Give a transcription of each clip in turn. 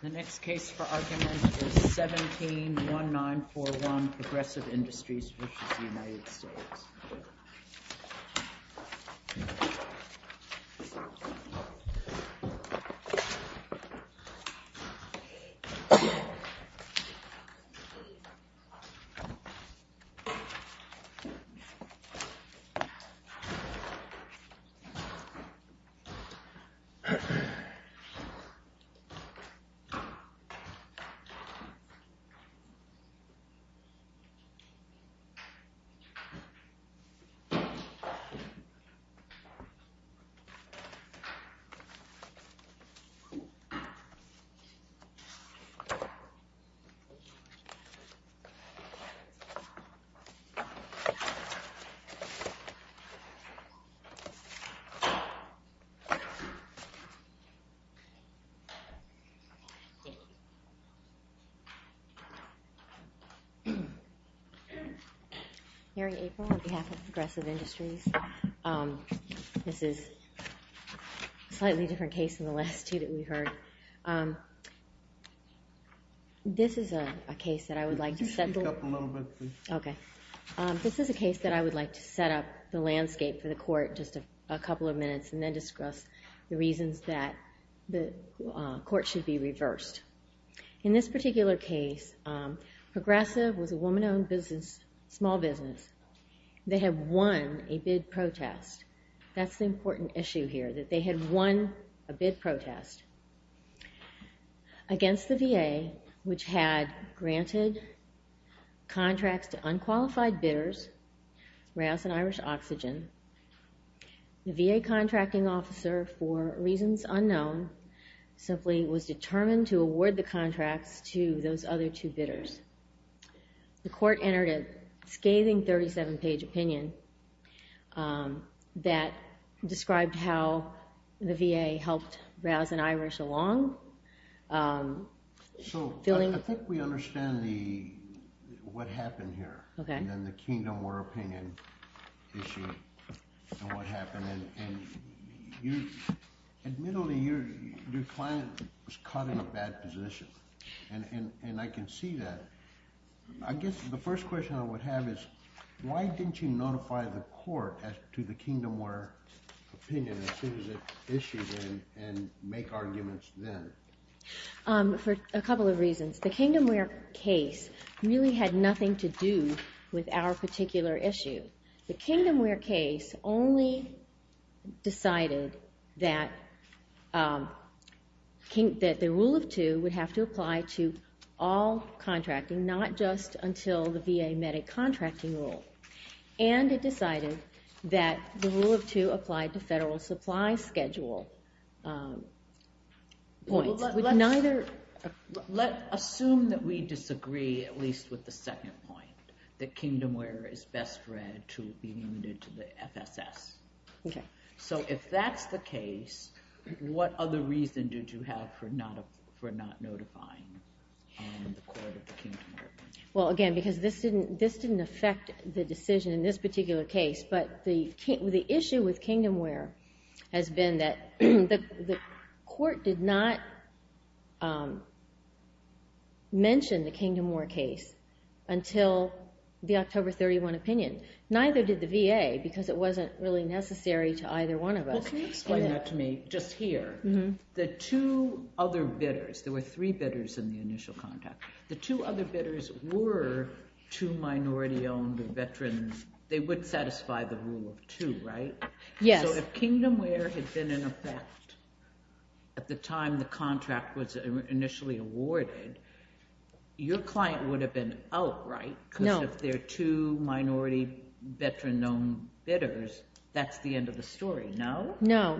The next case for argument is 171941, Progressive Industries v. United States. This case is 171941, Progressive Industries v. United States. Mary April, on behalf of Progressive Industries, this is a slightly different case than the last two that we heard. This is a case that I would like to set up the landscape for the court in just a couple of minutes and then discuss the reasons that the court should be reversed. In this particular case, Progressive was a woman-owned small business. They had won a bid protest. That's the important issue here, that they had won a bid protest against the VA, which had granted contracts to unqualified bidders, Rouse and Irish Oxygen. The VA contracting officer, for reasons unknown, simply was determined to award the contracts to those other two bidders. The court entered a scathing 37-page opinion that described how the VA helped Rouse and Irish along. I think we understand what happened here and the Kingdom War opinion issue and what happened. Admittedly, your client was caught in a bad position, and I can see that. I guess the first question I would have is, why didn't you notify the court as to the Kingdom War opinion as soon as it issued and make arguments then? For a couple of reasons. The Kingdom War case really had nothing to do with our particular issue. The Kingdom War case only decided that the Rule of Two would have to apply to all contracting, not just until the VA met a contracting rule. And it decided that the Rule of Two applied to federal supply schedule points. Let's assume that we disagree, at least with the second point, that Kingdom War is best read to be admitted to the FSS. If that's the case, what other reason did you have for not notifying the court of the Kingdom War opinion? Well, again, because this didn't affect the decision in this particular case, but the issue with Kingdom War has been that the court did not mention the Kingdom War case until the October 31 opinion. Neither did the VA because it wasn't really necessary to either one of us. Can you explain that to me, just here? The two other bidders, there were three bidders in the initial contract. The two other bidders were two minority-owned veterans. They would satisfy the Rule of Two, right? So if Kingdom War had been in effect at the time the contract was initially awarded, your client would have been out, right? Because if there are two minority veteran-owned bidders, that's the end of the story, no? No.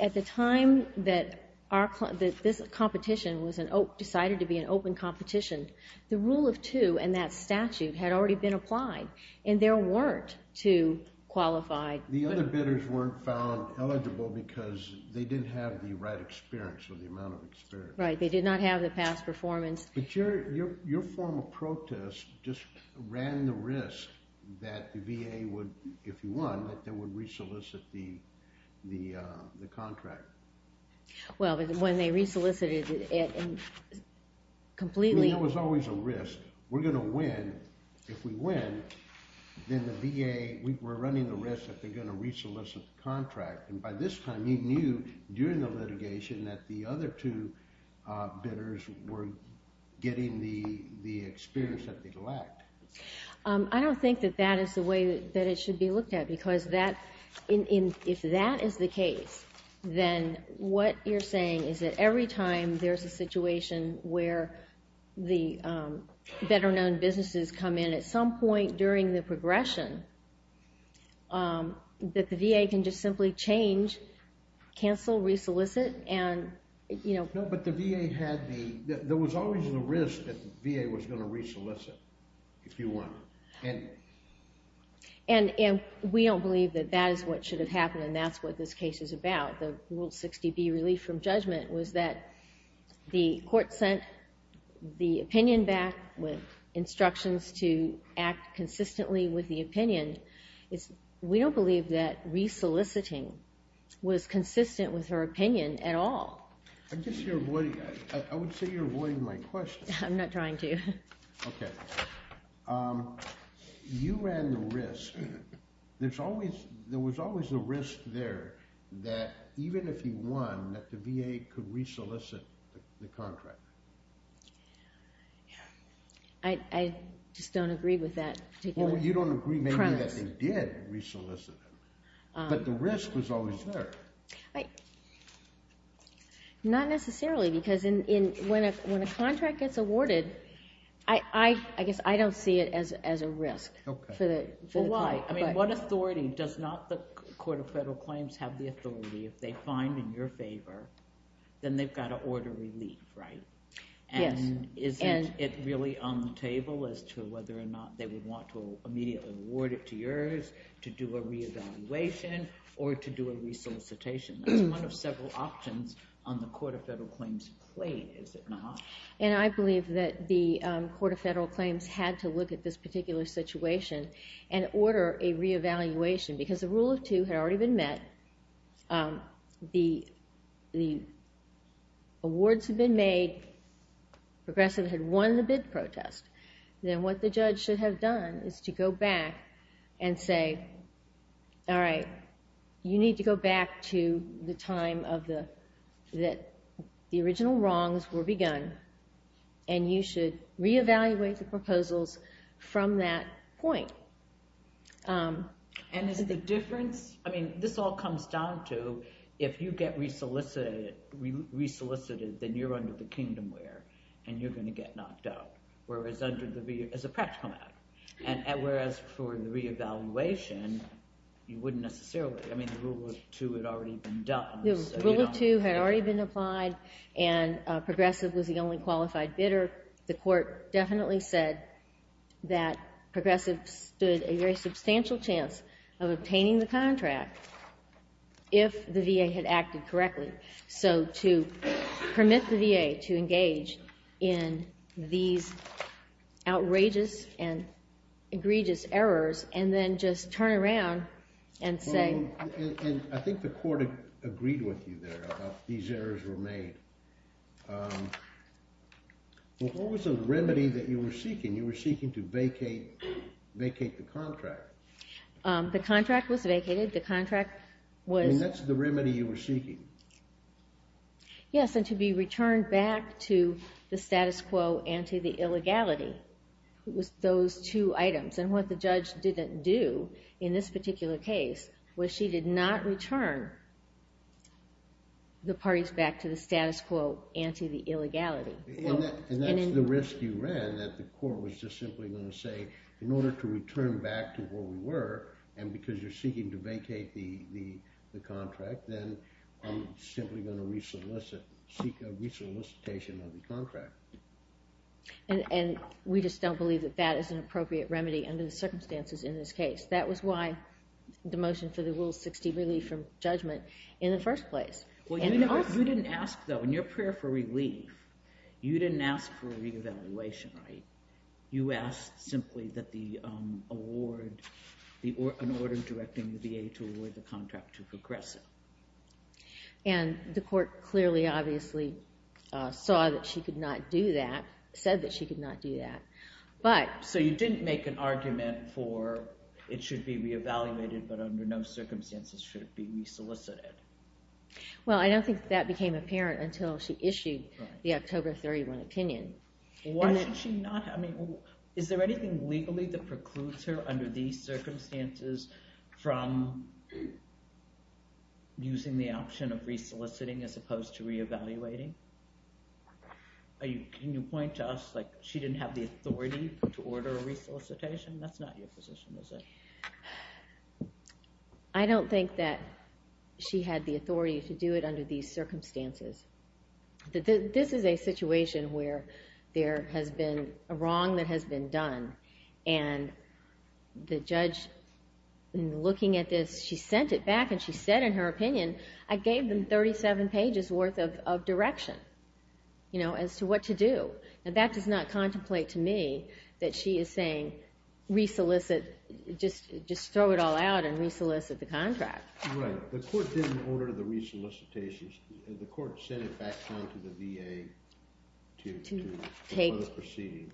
At the time that this competition decided to be an open competition, the Rule of Two and that statute had already been applied, and there weren't two qualified bidders. The other bidders weren't found eligible because they didn't have the right experience or the amount of experience. Right, they did not have the past performance. But your form of protest just ran the risk that the VA would, if you won, that they would resolicit the contract. Well, when they resolicited it and completely... It was always a risk. We're going to win. If we win, then the VA, we're running the risk that they're going to resolicit the contract. And by this time, you knew during the litigation that the other two bidders were getting the experience that they lacked. I don't think that that is the way that it should be looked at, because if that is the case, then what you're saying is that every time there's a situation where the veteran-owned businesses come in at some point during the progression, that the VA can just simply change, cancel, resolicit, and... No, but the VA had the... There was always the risk that the VA was going to resolicit, if you won. And we don't believe that that is what should have happened, and that's what this case is about. The Rule 60B, Relief from Judgment, was that the court sent the opinion back with instructions to act consistently with the opinion. We don't believe that resoliciting was consistent with her opinion at all. I guess you're avoiding... I would say you're avoiding my question. I'm not trying to. Okay. You ran the risk. There was always a risk there that even if you won, that the VA could resolicit the contract. I just don't agree with that particular premise. Well, you don't agree maybe that they did resolicit it, but the risk was always there. Not necessarily, because when a contract gets awarded, I guess I don't see it as a risk. Okay. Well, why? I mean, what authority? Does not the Court of Federal Claims have the authority? If they find in your favor, then they've got to order relief, right? Yes. And isn't it really on the table as to whether or not they would want to immediately award it to yours to do a re-evaluation or to do a resolicitation? That's one of several options on the Court of Federal Claims' plate, is it not? And I believe that the Court of Federal Claims had to look at this particular situation and order a re-evaluation, because the rule of two had already been met. The awards had been made. Progressive had won the bid protest. Then what the judge should have done is to go back and say, all right, you need to go back to the time that the original wrongs were begun, and you should re-evaluate the proposals from that point. And is the difference? I mean, this all comes down to if you get re-solicited, then you're under the kingdom where, and you're going to get knocked out as a practical matter. And whereas for the re-evaluation, you wouldn't necessarily. I mean, the rule of two had already been done. The rule of two had already been applied, and progressive was the only qualified bidder. The court definitely said that progressive stood a very substantial chance of obtaining the contract if the VA had acted correctly. So to permit the VA to engage in these outrageous and egregious errors and then just turn around and say. I think the court agreed with you there about these errors were made. What was the remedy that you were seeking? You were seeking to vacate the contract. The contract was vacated. And that's the remedy you were seeking? Yes, and to be returned back to the status quo and to the illegality. It was those two items. And what the judge didn't do in this particular case was she did not return the parties back to the status quo and to the illegality. And that's the risk you ran, that the court was just simply going to say, in order to return back to where we were, and because you're seeking to vacate the contract, then I'm simply going to seek a re-solicitation of the contract. And we just don't believe that that is an appropriate remedy under the circumstances in this case. That was why the motion for the Rule 60 relief from judgment in the first place. Well, you didn't ask, though, in your prayer for relief, you didn't ask for a re-evaluation, right? You asked simply that the award, an order directing the VA to award the contract to progressive. And the court clearly, obviously, saw that she could not do that, said that she could not do that. So you didn't make an argument for it should be re-evaluated, but under no circumstances should it be re-solicited? Well, I don't think that became apparent until she issued the October 31 opinion. Why should she not? I mean, is there anything legally that precludes her under these circumstances from using the option of re-soliciting as opposed to re-evaluating? Can you point to us, like, she didn't have the authority to order a re-solicitation? That's not your position, is it? I don't think that she had the authority to do it under these circumstances. This is a situation where there has been a wrong that has been done, and the judge, in looking at this, she sent it back and she said in her opinion, I gave them 37 pages worth of direction, you know, as to what to do. And that does not contemplate to me that she is saying re-solicit, just throw it all out and re-solicit the contract. Right. The court didn't order the re-solicitations. The court sent it back home to the VA to further proceed.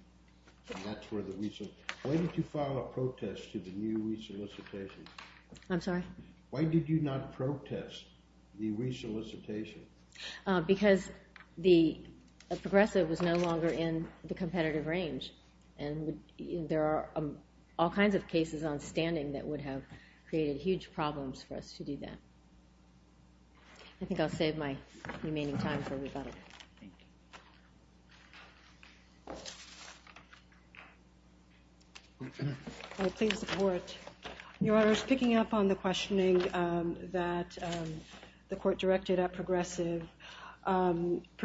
And that's where the re-solicitation... Why did you file a protest to the new re-solicitation? I'm sorry? Why did you not protest the re-solicitation? Because the progressive was no longer in the competitive range, and there are all kinds of cases on standing that would have created huge problems for us to do that. I think I'll save my remaining time for rebuttal. Thank you. Please support. Your Honor, I was picking up on the questioning that the court directed at progressive,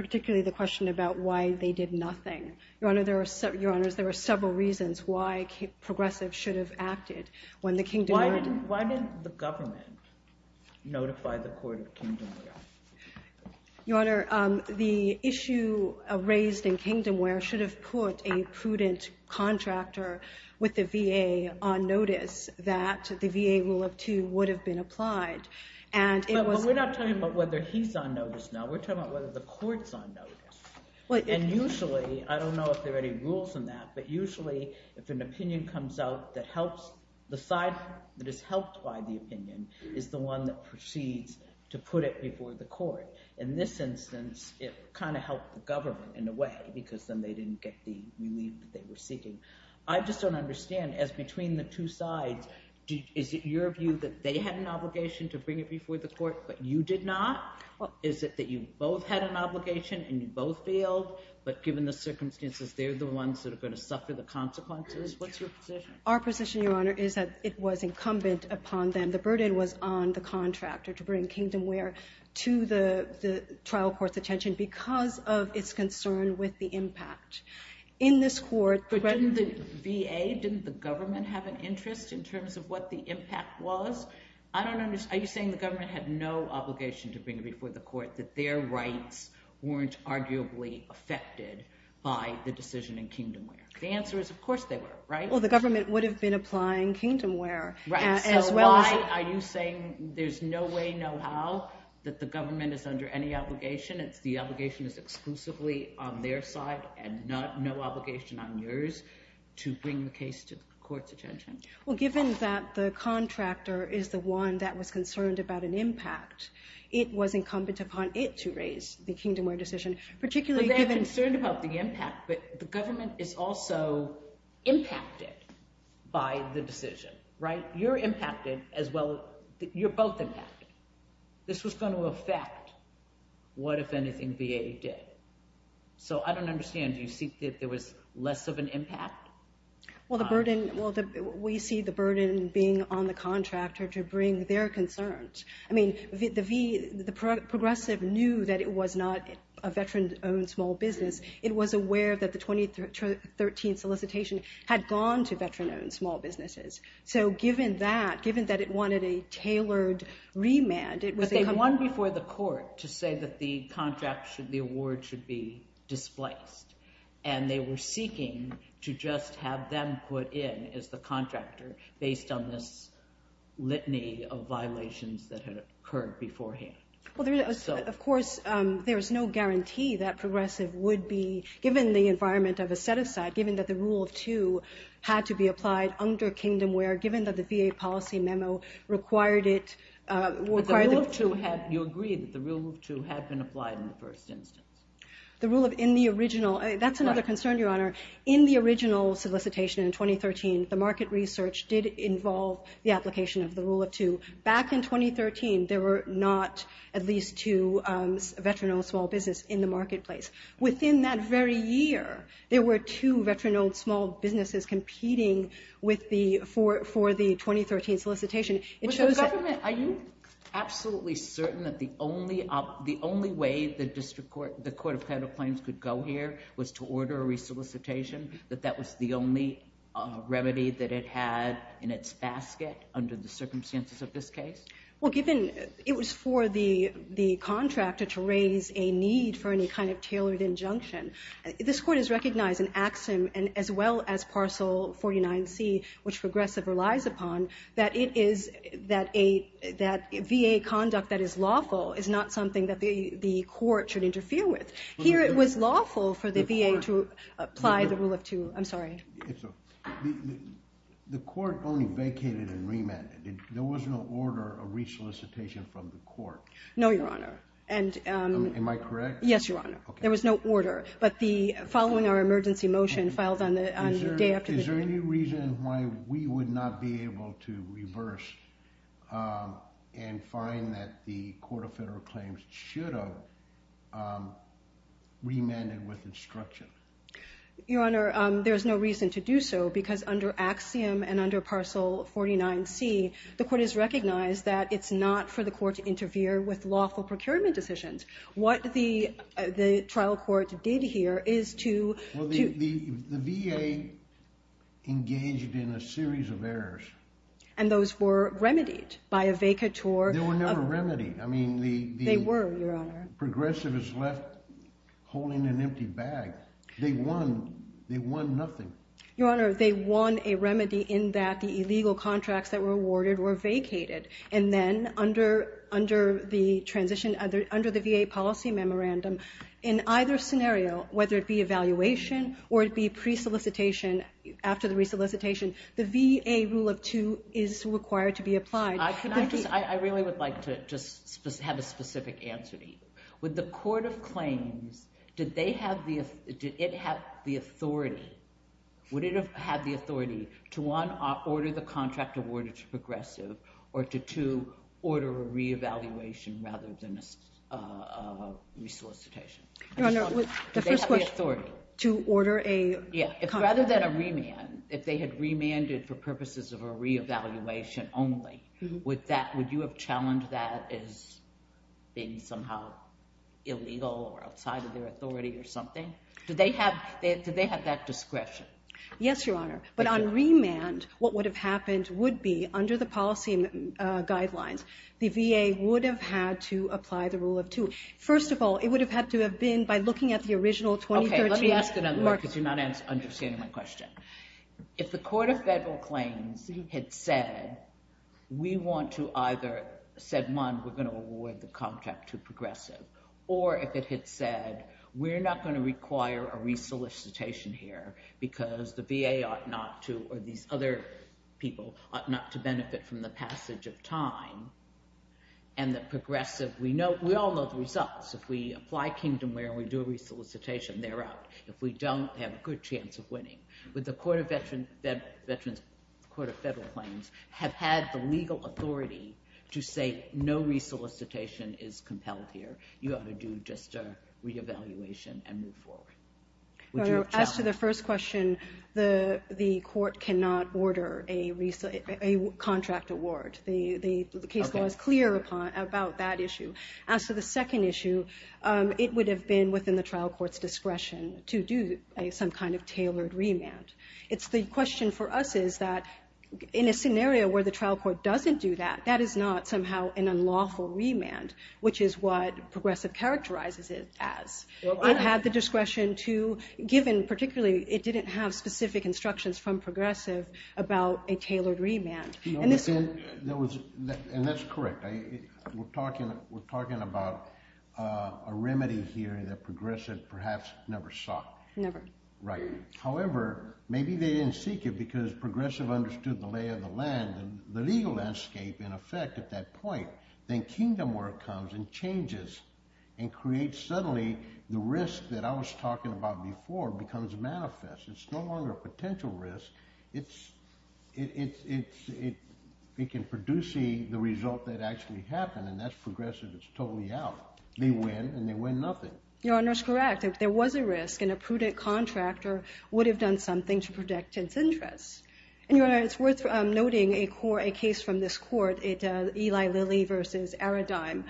particularly the question about why they did nothing. Your Honor, there are several reasons why progressive should have acted. Why didn't the government notify the court of kingdomware? Your Honor, the issue raised in kingdomware should have put a prudent contractor with the VA on notice that the VA Rule of Two would have been applied. But we're not talking about whether he's on notice now. We're talking about whether the court's on notice. And usually, I don't know if there are any rules in that, but usually if an opinion comes out that helps the side that is helped by the opinion is the one that proceeds to put it before the court. In this instance, it kind of helped the government in a way because then they didn't get the relief that they were seeking. I just don't understand. As between the two sides, is it your view that they had an obligation to bring it before the court but you did not? Is it that you both had an obligation and you both failed, but given the circumstances, they're the ones that are going to suffer the consequences? What's your position? Our position, Your Honor, is that it was incumbent upon them. The burden was on the contractor to bring kingdomware to the trial court's attention because of its concern with the impact. In this court— But didn't the VA, didn't the government have an interest in terms of what the impact was? I don't understand. Are you saying the government had no obligation to bring it before the court that their rights weren't arguably affected by the decision in kingdomware? The answer is of course they were, right? Well, the government would have been applying kingdomware as well as— So why are you saying there's no way, no how, that the government is under any obligation? It's the obligation that's exclusively on their side and no obligation on yours to bring the case to the court's attention? Well, given that the contractor is the one that was concerned about an impact, it was incumbent upon it to raise the kingdomware decision, particularly given— They're concerned about the impact, but the government is also impacted by the decision, right? You're impacted as well—you're both impacted. This was going to affect what, if anything, VA did. So I don't understand. Do you see that there was less of an impact? Well, we see the burden being on the contractor to bring their concerns. I mean, the progressive knew that it was not a veteran-owned small business. It was aware that the 2013 solicitation had gone to veteran-owned small businesses. So given that, given that it wanted a tailored remand, it was incumbent— But they won before the court to say that the award should be displaced, and they were seeking to just have them put in as the contractor based on this litany of violations that had occurred beforehand. Well, of course, there is no guarantee that progressive would be— given the environment of a set-aside, given that the Rule of Two had to be applied under kingdomware, given that the VA policy memo required it— But the Rule of Two had—you agree that the Rule of Two had been applied in the first instance? The Rule of—in the original—that's another concern, Your Honor. In the original solicitation in 2013, the market research did involve the application of the Rule of Two. Back in 2013, there were not at least two veteran-owned small businesses in the marketplace. Within that very year, there were two veteran-owned small businesses competing for the 2013 solicitation. Are you absolutely certain that the only way the District Court—the Court of Federal Claims could go here was to order a re-solicitation, that that was the only remedy that it had in its basket under the circumstances of this case? Well, given—it was for the contractor to raise a need for any kind of tailored injunction. This Court has recognized an axiom, as well as Parcel 49C, which progressive relies upon, that it is—that VA conduct that is lawful is not something that the Court should interfere with. Here, it was lawful for the VA to apply the Rule of Two. I'm sorry. The Court only vacated and remanded. There was no order of re-solicitation from the Court. No, Your Honor. Am I correct? Yes, Your Honor. Okay. There was no order. But the—following our emergency motion filed on the day after the— Is there any reason why we would not be able to reverse and find that the Court of Federal Claims should have remanded with instruction? Your Honor, there's no reason to do so because under axiom and under Parcel 49C, the Court has recognized that it's not for the Court to interfere with lawful procurement decisions. What the trial court did here is to— The VA engaged in a series of errors. And those were remedied by a vacateur of— They were never remedied. I mean, the— They were, Your Honor. Progressive is left holding an empty bag. They won. They won nothing. Your Honor, they won a remedy in that the illegal contracts that were awarded were vacated. And then under the transition—under the VA policy memorandum, in either scenario, whether it be evaluation or it be pre-solicitation, after the re-solicitation, the VA rule of two is required to be applied. I really would like to just have a specific answer to you. Would the Court of Claims, did they have the—did it have the authority, would it have had the authority to, one, order the contract awarded to progressive, or to, two, order a re-evaluation rather than a re-solicitation? Your Honor, the first question— Did they have the authority? To order a— Yeah. Rather than a remand, if they had remanded for purposes of a re-evaluation only, would that—would you have challenged that as being somehow illegal or outside of their authority or something? Did they have that discretion? Yes, Your Honor. But on remand, what would have happened would be, under the policy guidelines, the VA would have had to apply the rule of two. First of all, it would have had to have been, by looking at the original 2013— Okay, let me ask another one because you're not understanding my question. If the Court of Federal Claims had said, we want to either—said, one, we're going to award the contract to progressive, or if it had said, we're not going to require a re-solicitation here because the VA ought not to, or these other people, ought not to benefit from the passage of time, and that progressive—we all know the results. If we apply Kingdomware and we do a re-solicitation, they're out. If we don't, they have a good chance of winning. But the Court of Federal Claims have had the legal authority to say, no re-solicitation is compelled here. You ought to do just a re-evaluation and move forward. As to the first question, the court cannot order a contract award. The case law is clear about that issue. As to the second issue, it would have been within the trial court's discretion to do some kind of tailored remand. The question for us is that in a scenario where the trial court doesn't do that, that is not somehow an unlawful remand, which is what progressive characterizes it as. It had the discretion to, given particularly it didn't have specific instructions from progressive about a tailored remand. That's correct. We're talking about a remedy here that progressive perhaps never saw. Never. Right. However, maybe they didn't seek it because progressive understood the lay of the land, the legal landscape, in effect, at that point. Then kingdom work comes and changes and creates suddenly the risk that I was talking about before becomes manifest. It's no longer a potential risk. It can produce the result that actually happened, and that's progressive. It's totally out. They win, and they win nothing. Your Honor, it's correct. There was a risk, and a prudent contractor would have done something to protect its interests. Your Honor, it's worth noting a case from this court, Eli Lilly v. Aradime,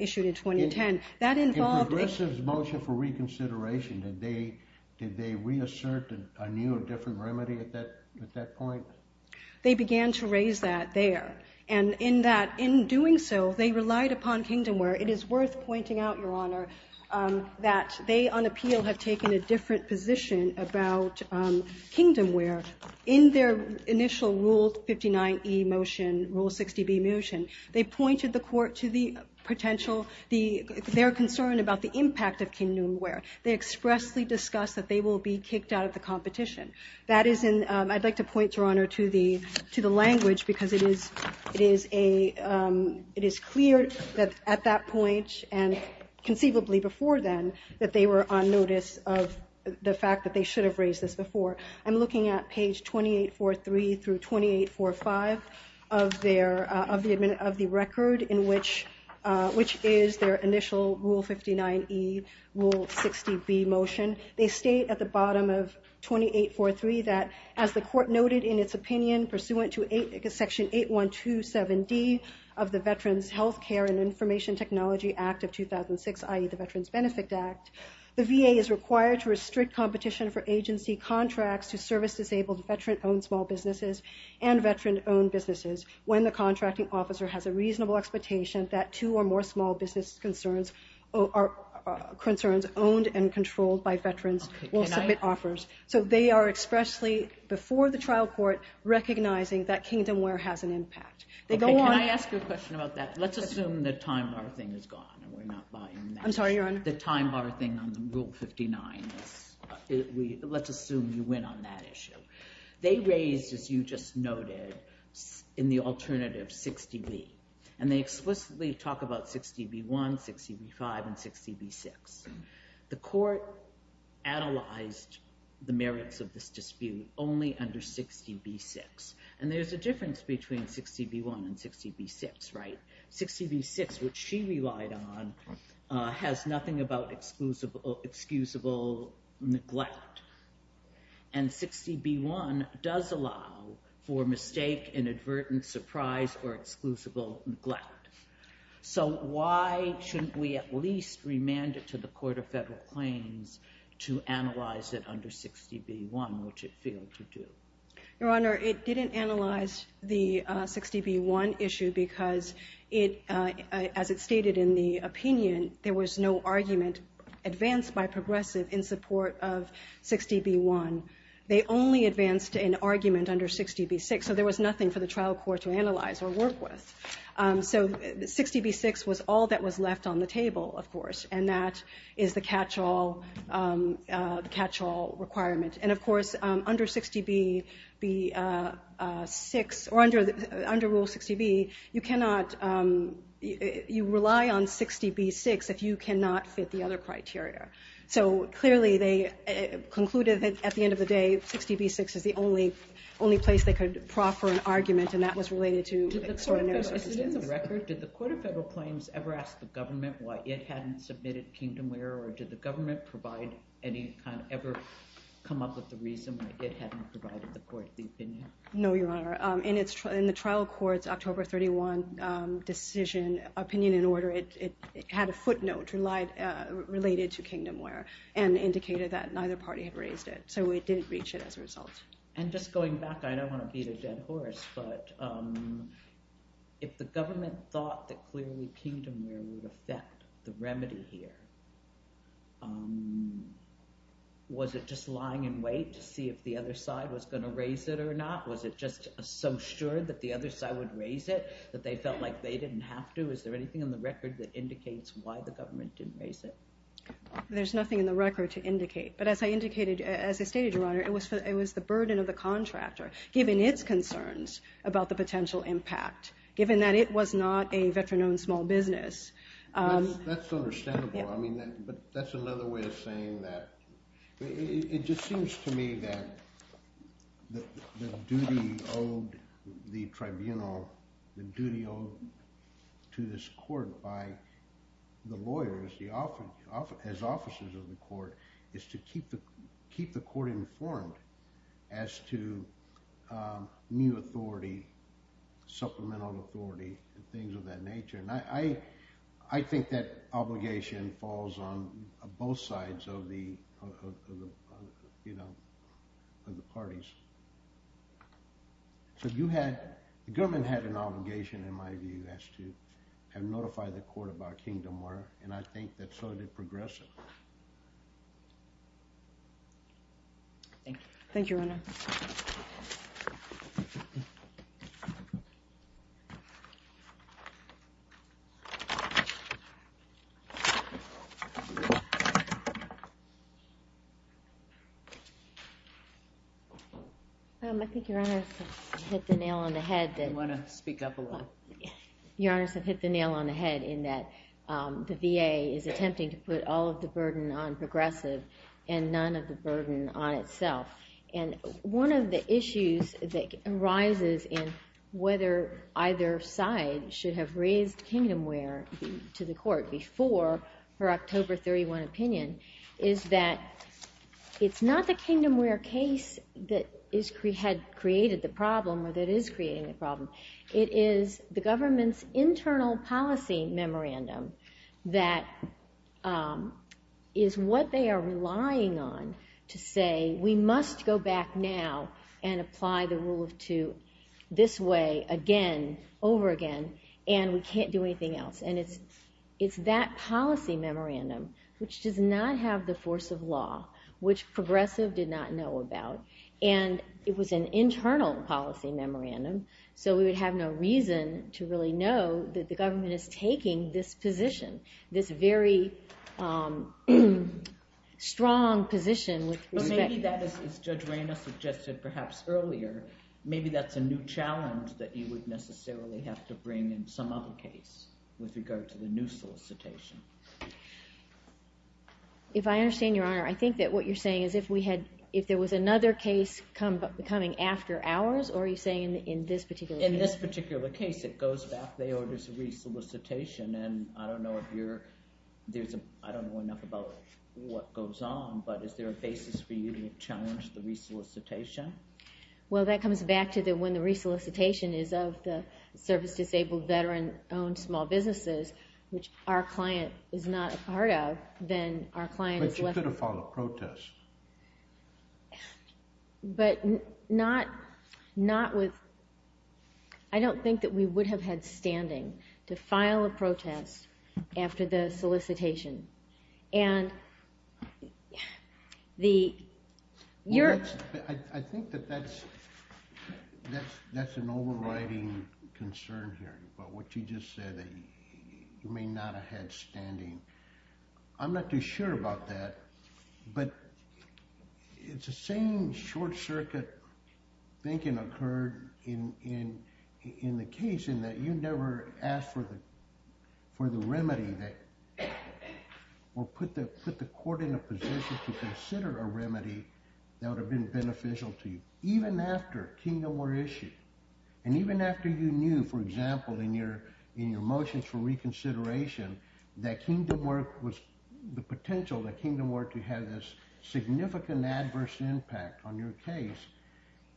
issued in 2010. In progressive's motion for reconsideration, did they reassert a new or different remedy at that point? They began to raise that there, and in doing so, they relied upon kingdomware. It is worth pointing out, Your Honor, that they on appeal have taken a different position about kingdomware. In their initial Rule 59E motion, Rule 60B motion, they pointed the court to the potential, their concern about the impact of kingdomware. They expressly discussed that they will be kicked out of the competition. I'd like to point, Your Honor, to the language because it is clear that at that point and conceivably before then that they were on notice of the fact that they should have raised this before. I'm looking at page 2843 through 2845 of the record, which is their initial Rule 59E, Rule 60B motion. They state at the bottom of 2843 that, as the court noted in its opinion, pursuant to Section 8127D of the Veterans Health Care and Information Technology Act of 2006, i.e., the Veterans Benefit Act, the VA is required to restrict competition for agency contracts to service disabled veteran-owned small businesses and veteran-owned businesses when the contracting officer has a reasonable expectation that two or more small business concerns owned and controlled by veterans will submit offers. So they are expressly, before the trial court, recognizing that kingdomware has an impact. Can I ask you a question about that? Let's assume the time-bar thing is gone and we're not buying that. I'm sorry, Your Honor? The time-bar thing on Rule 59, let's assume you went on that issue. They raised, as you just noted, in the alternative, 60B, and they explicitly talk about 60B1, 60B5, and 60B6. The court analyzed the merits of this dispute only under 60B6, and there's a difference between 60B1 and 60B6, right? 60B6 has nothing about excusable neglect, and 60B1 does allow for mistake, inadvertent surprise, or exclusable neglect. So why shouldn't we at least remand it to the Court of Federal Claims to analyze it under 60B1, which it failed to do? Your Honor, it didn't analyze the 60B1 issue because, as it stated in the opinion, there was no argument advanced by Progressive in support of 60B1. They only advanced an argument under 60B6, so there was nothing for the trial court to analyze or work with. So 60B6 was all that was left on the table, of course, and that is the catch-all requirement. And, of course, under Rule 60B, you rely on 60B6 if you cannot fit the other criteria. So clearly they concluded that, at the end of the day, 60B6 is the only place they could proffer an argument, and that was related to extraordinary circumstances. Is it in the record? Did the Court of Federal Claims ever ask the government why it hadn't submitted Kingdomware, or did the government ever come up with the reason why it hadn't provided the court the opinion? No, Your Honor. In the trial court's October 31 decision opinion in order, it had a footnote related to Kingdomware and indicated that neither party had raised it. So it didn't reach it as a result. And just going back, I don't want to beat a dead horse, but if the government thought that clearly Kingdomware would affect the remedy here, was it just lying in wait to see if the other side was going to raise it or not? Was it just so sure that the other side would raise it that they felt like they didn't have to? Is there anything in the record that indicates why the government didn't raise it? There's nothing in the record to indicate, but as I stated, Your Honor, it was the burden of the contractor, given its concerns about the potential impact, given that it was not a veteran-owned small business. That's understandable, but that's another way of saying that. It just seems to me that the duty owed to the tribunal, the duty owed to this court by the lawyers as officers of the court, is to keep the court informed as to new authority, supplemental authority, and things of that nature. And I think that obligation falls on both sides of the parties. The government had an obligation, in my view, as to notify the court about Kingdomware, and I think that so did Progressive. Thank you. Thank you, Your Honor. I think Your Honor has hit the nail on the head. You want to speak up a little? Your Honor has hit the nail on the head in that the VA is attempting to put all of the burden on Progressive and none of the burden on itself. And one of the issues that arises in whether either side should have raised Kingdomware to the court before her October 31 opinion is that it's not the Kingdomware case that had created the problem or that is creating the problem. It is the government's internal policy memorandum that is what they are relying on to say, we must go back now and apply the Rule of Two this way again, over again, and we can't do anything else. And it's that policy memorandum which does not have the force of law, which Progressive did not know about. And it was an internal policy memorandum, so we would have no reason to really know that the government is taking this position, this very strong position with respect to Kingdomware. But maybe that is, as Judge Reyna suggested perhaps earlier, maybe that's a new challenge that you would necessarily have to bring in some other case with regard to the new solicitation. If I understand Your Honor, I think that what you're saying is if there was another case coming after ours, or are you saying in this particular case? In this particular case, it goes back, they order a re-solicitation, and I don't know enough about what goes on, but is there a basis for you to challenge the re-solicitation? Well, that comes back to when the re-solicitation is of the service-disabled, veteran-owned small businesses, which our client is not a part of, then our client is left... But you could have filed a protest. But not with... I don't think that we would have had standing to file a protest after the solicitation. And the... I think that that's an overriding concern here, about what you just said, that you may not have had standing. I'm not too sure about that, but it's the same short-circuit thinking occurred in the case, that you never asked for the remedy, or put the court in a position to consider a remedy that would have been beneficial to you. Even after Kingdom were issued, and even after you knew, for example, in your motions for reconsideration, that Kingdom were... the potential that Kingdom were to have this significant adverse impact on your case,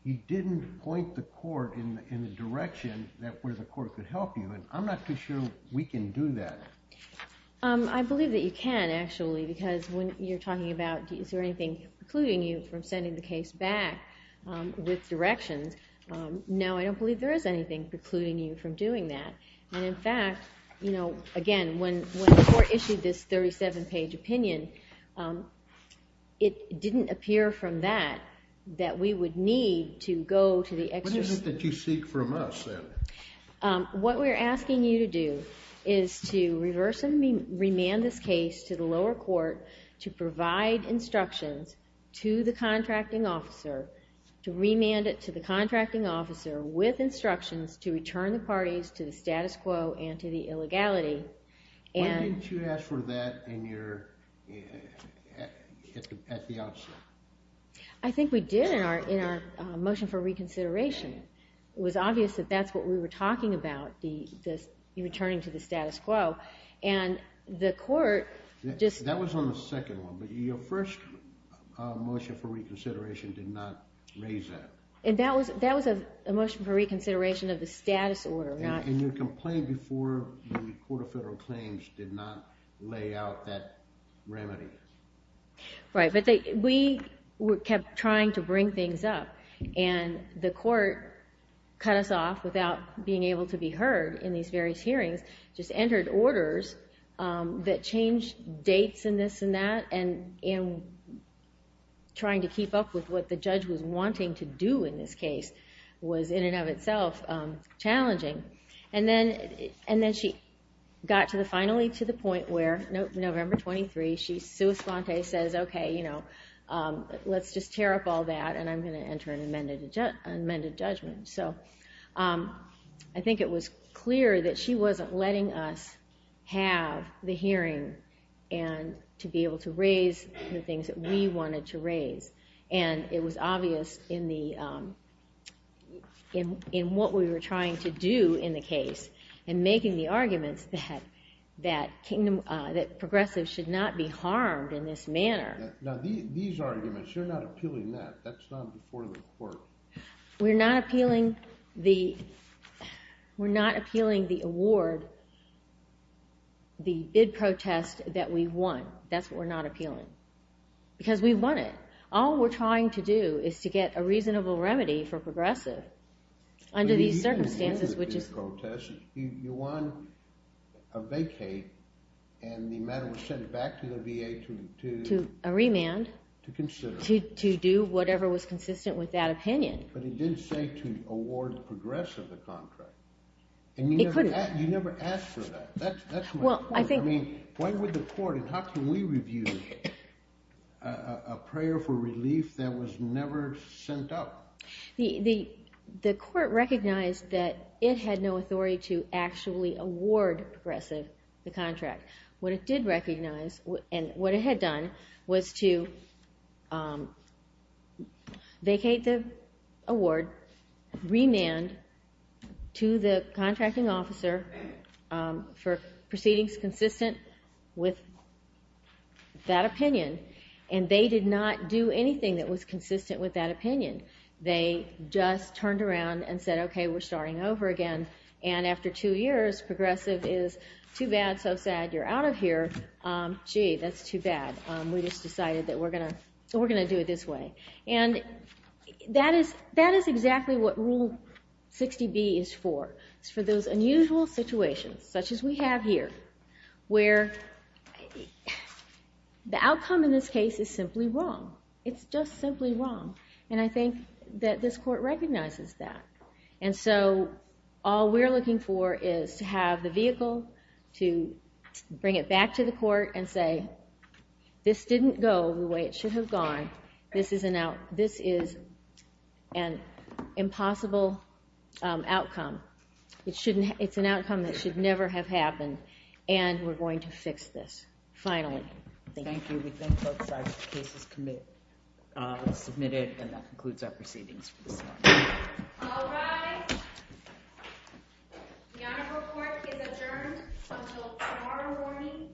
you didn't point the court in a direction where the court could help you, and I'm not too sure we can do that. I believe that you can, actually, because when you're talking about, is there anything precluding you from sending the case back with directions, no, I don't believe there is anything precluding you from doing that. And in fact, again, when the court issued this 37-page opinion, it didn't appear from that, that we would need to go to the... What is it that you seek from us, then? What we're asking you to do, is to remand this case to the lower court, to provide instructions to the contracting officer, to remand it to the contracting officer, with instructions to return the parties to the status quo, and to the illegality. Why didn't you ask for that in your... at the outset? I think we did in our motion for reconsideration. It was obvious that that's what we were talking about, the returning to the status quo, and the court just... That was on the second one, but your first motion for reconsideration did not raise that. And that was a motion for reconsideration of the status order, not... And your complaint before the Court of Federal Claims did not lay out that remedy. Right, but we kept trying to bring things up, and the court cut us off without being able to be heard in these various hearings, just entered orders that changed dates and this and that, and trying to keep up with what the judge was wanting to do in this case was, in and of itself, challenging. And then she finally got to the point where, November 23, she sui sponte says, okay, let's just tear up all that, and I'm going to enter an amended judgment. I think it was clear that she wasn't letting us have the hearing to be able to raise the things that we wanted to raise. And it was obvious in what we were trying to do in the case, and making the arguments that progressives should not be harmed in this manner. Now, these arguments, you're not appealing that. That's not before the court. We're not appealing the award, the bid protest that we won. That's what we're not appealing, because we won it. All we're trying to do is to get a reasonable remedy for progressive under these circumstances, which is... You won a vacate, and the matter was sent back to the VA to... To a remand. To consider. To do whatever was consistent with that opinion. But it did say to award progressive a contract. It could have. And you never asked for that. That's my point. I mean, when would the court, and how can we review a prayer for relief that was never sent up? The court recognized that it had no authority to actually award progressive the contract. What it did recognize, and what it had done, was to vacate the award, remand to the contracting officer for proceedings consistent with that opinion. And they did not do anything that was consistent with that opinion. They just turned around and said, okay, we're starting over again. And after two years, progressive is too bad, so sad, you're out of here. Gee, that's too bad. We just decided that we're going to do it this way. And that is exactly what Rule 60B is for. It's for those unusual situations, such as we have here, where the outcome in this case is simply wrong. It's just simply wrong. And I think that this court recognizes that. And so all we're looking for is to have the vehicle to bring it back to the court and say, this didn't go the way it should have gone. This is an impossible outcome. It's an outcome that should never have happened. And we're going to fix this, finally. Thank you. Thank you. We thank both sides. The case is submitted, and that concludes our proceedings for this morning. All rise. The Honorable Court is adjourned until tomorrow morning at 10 a.m.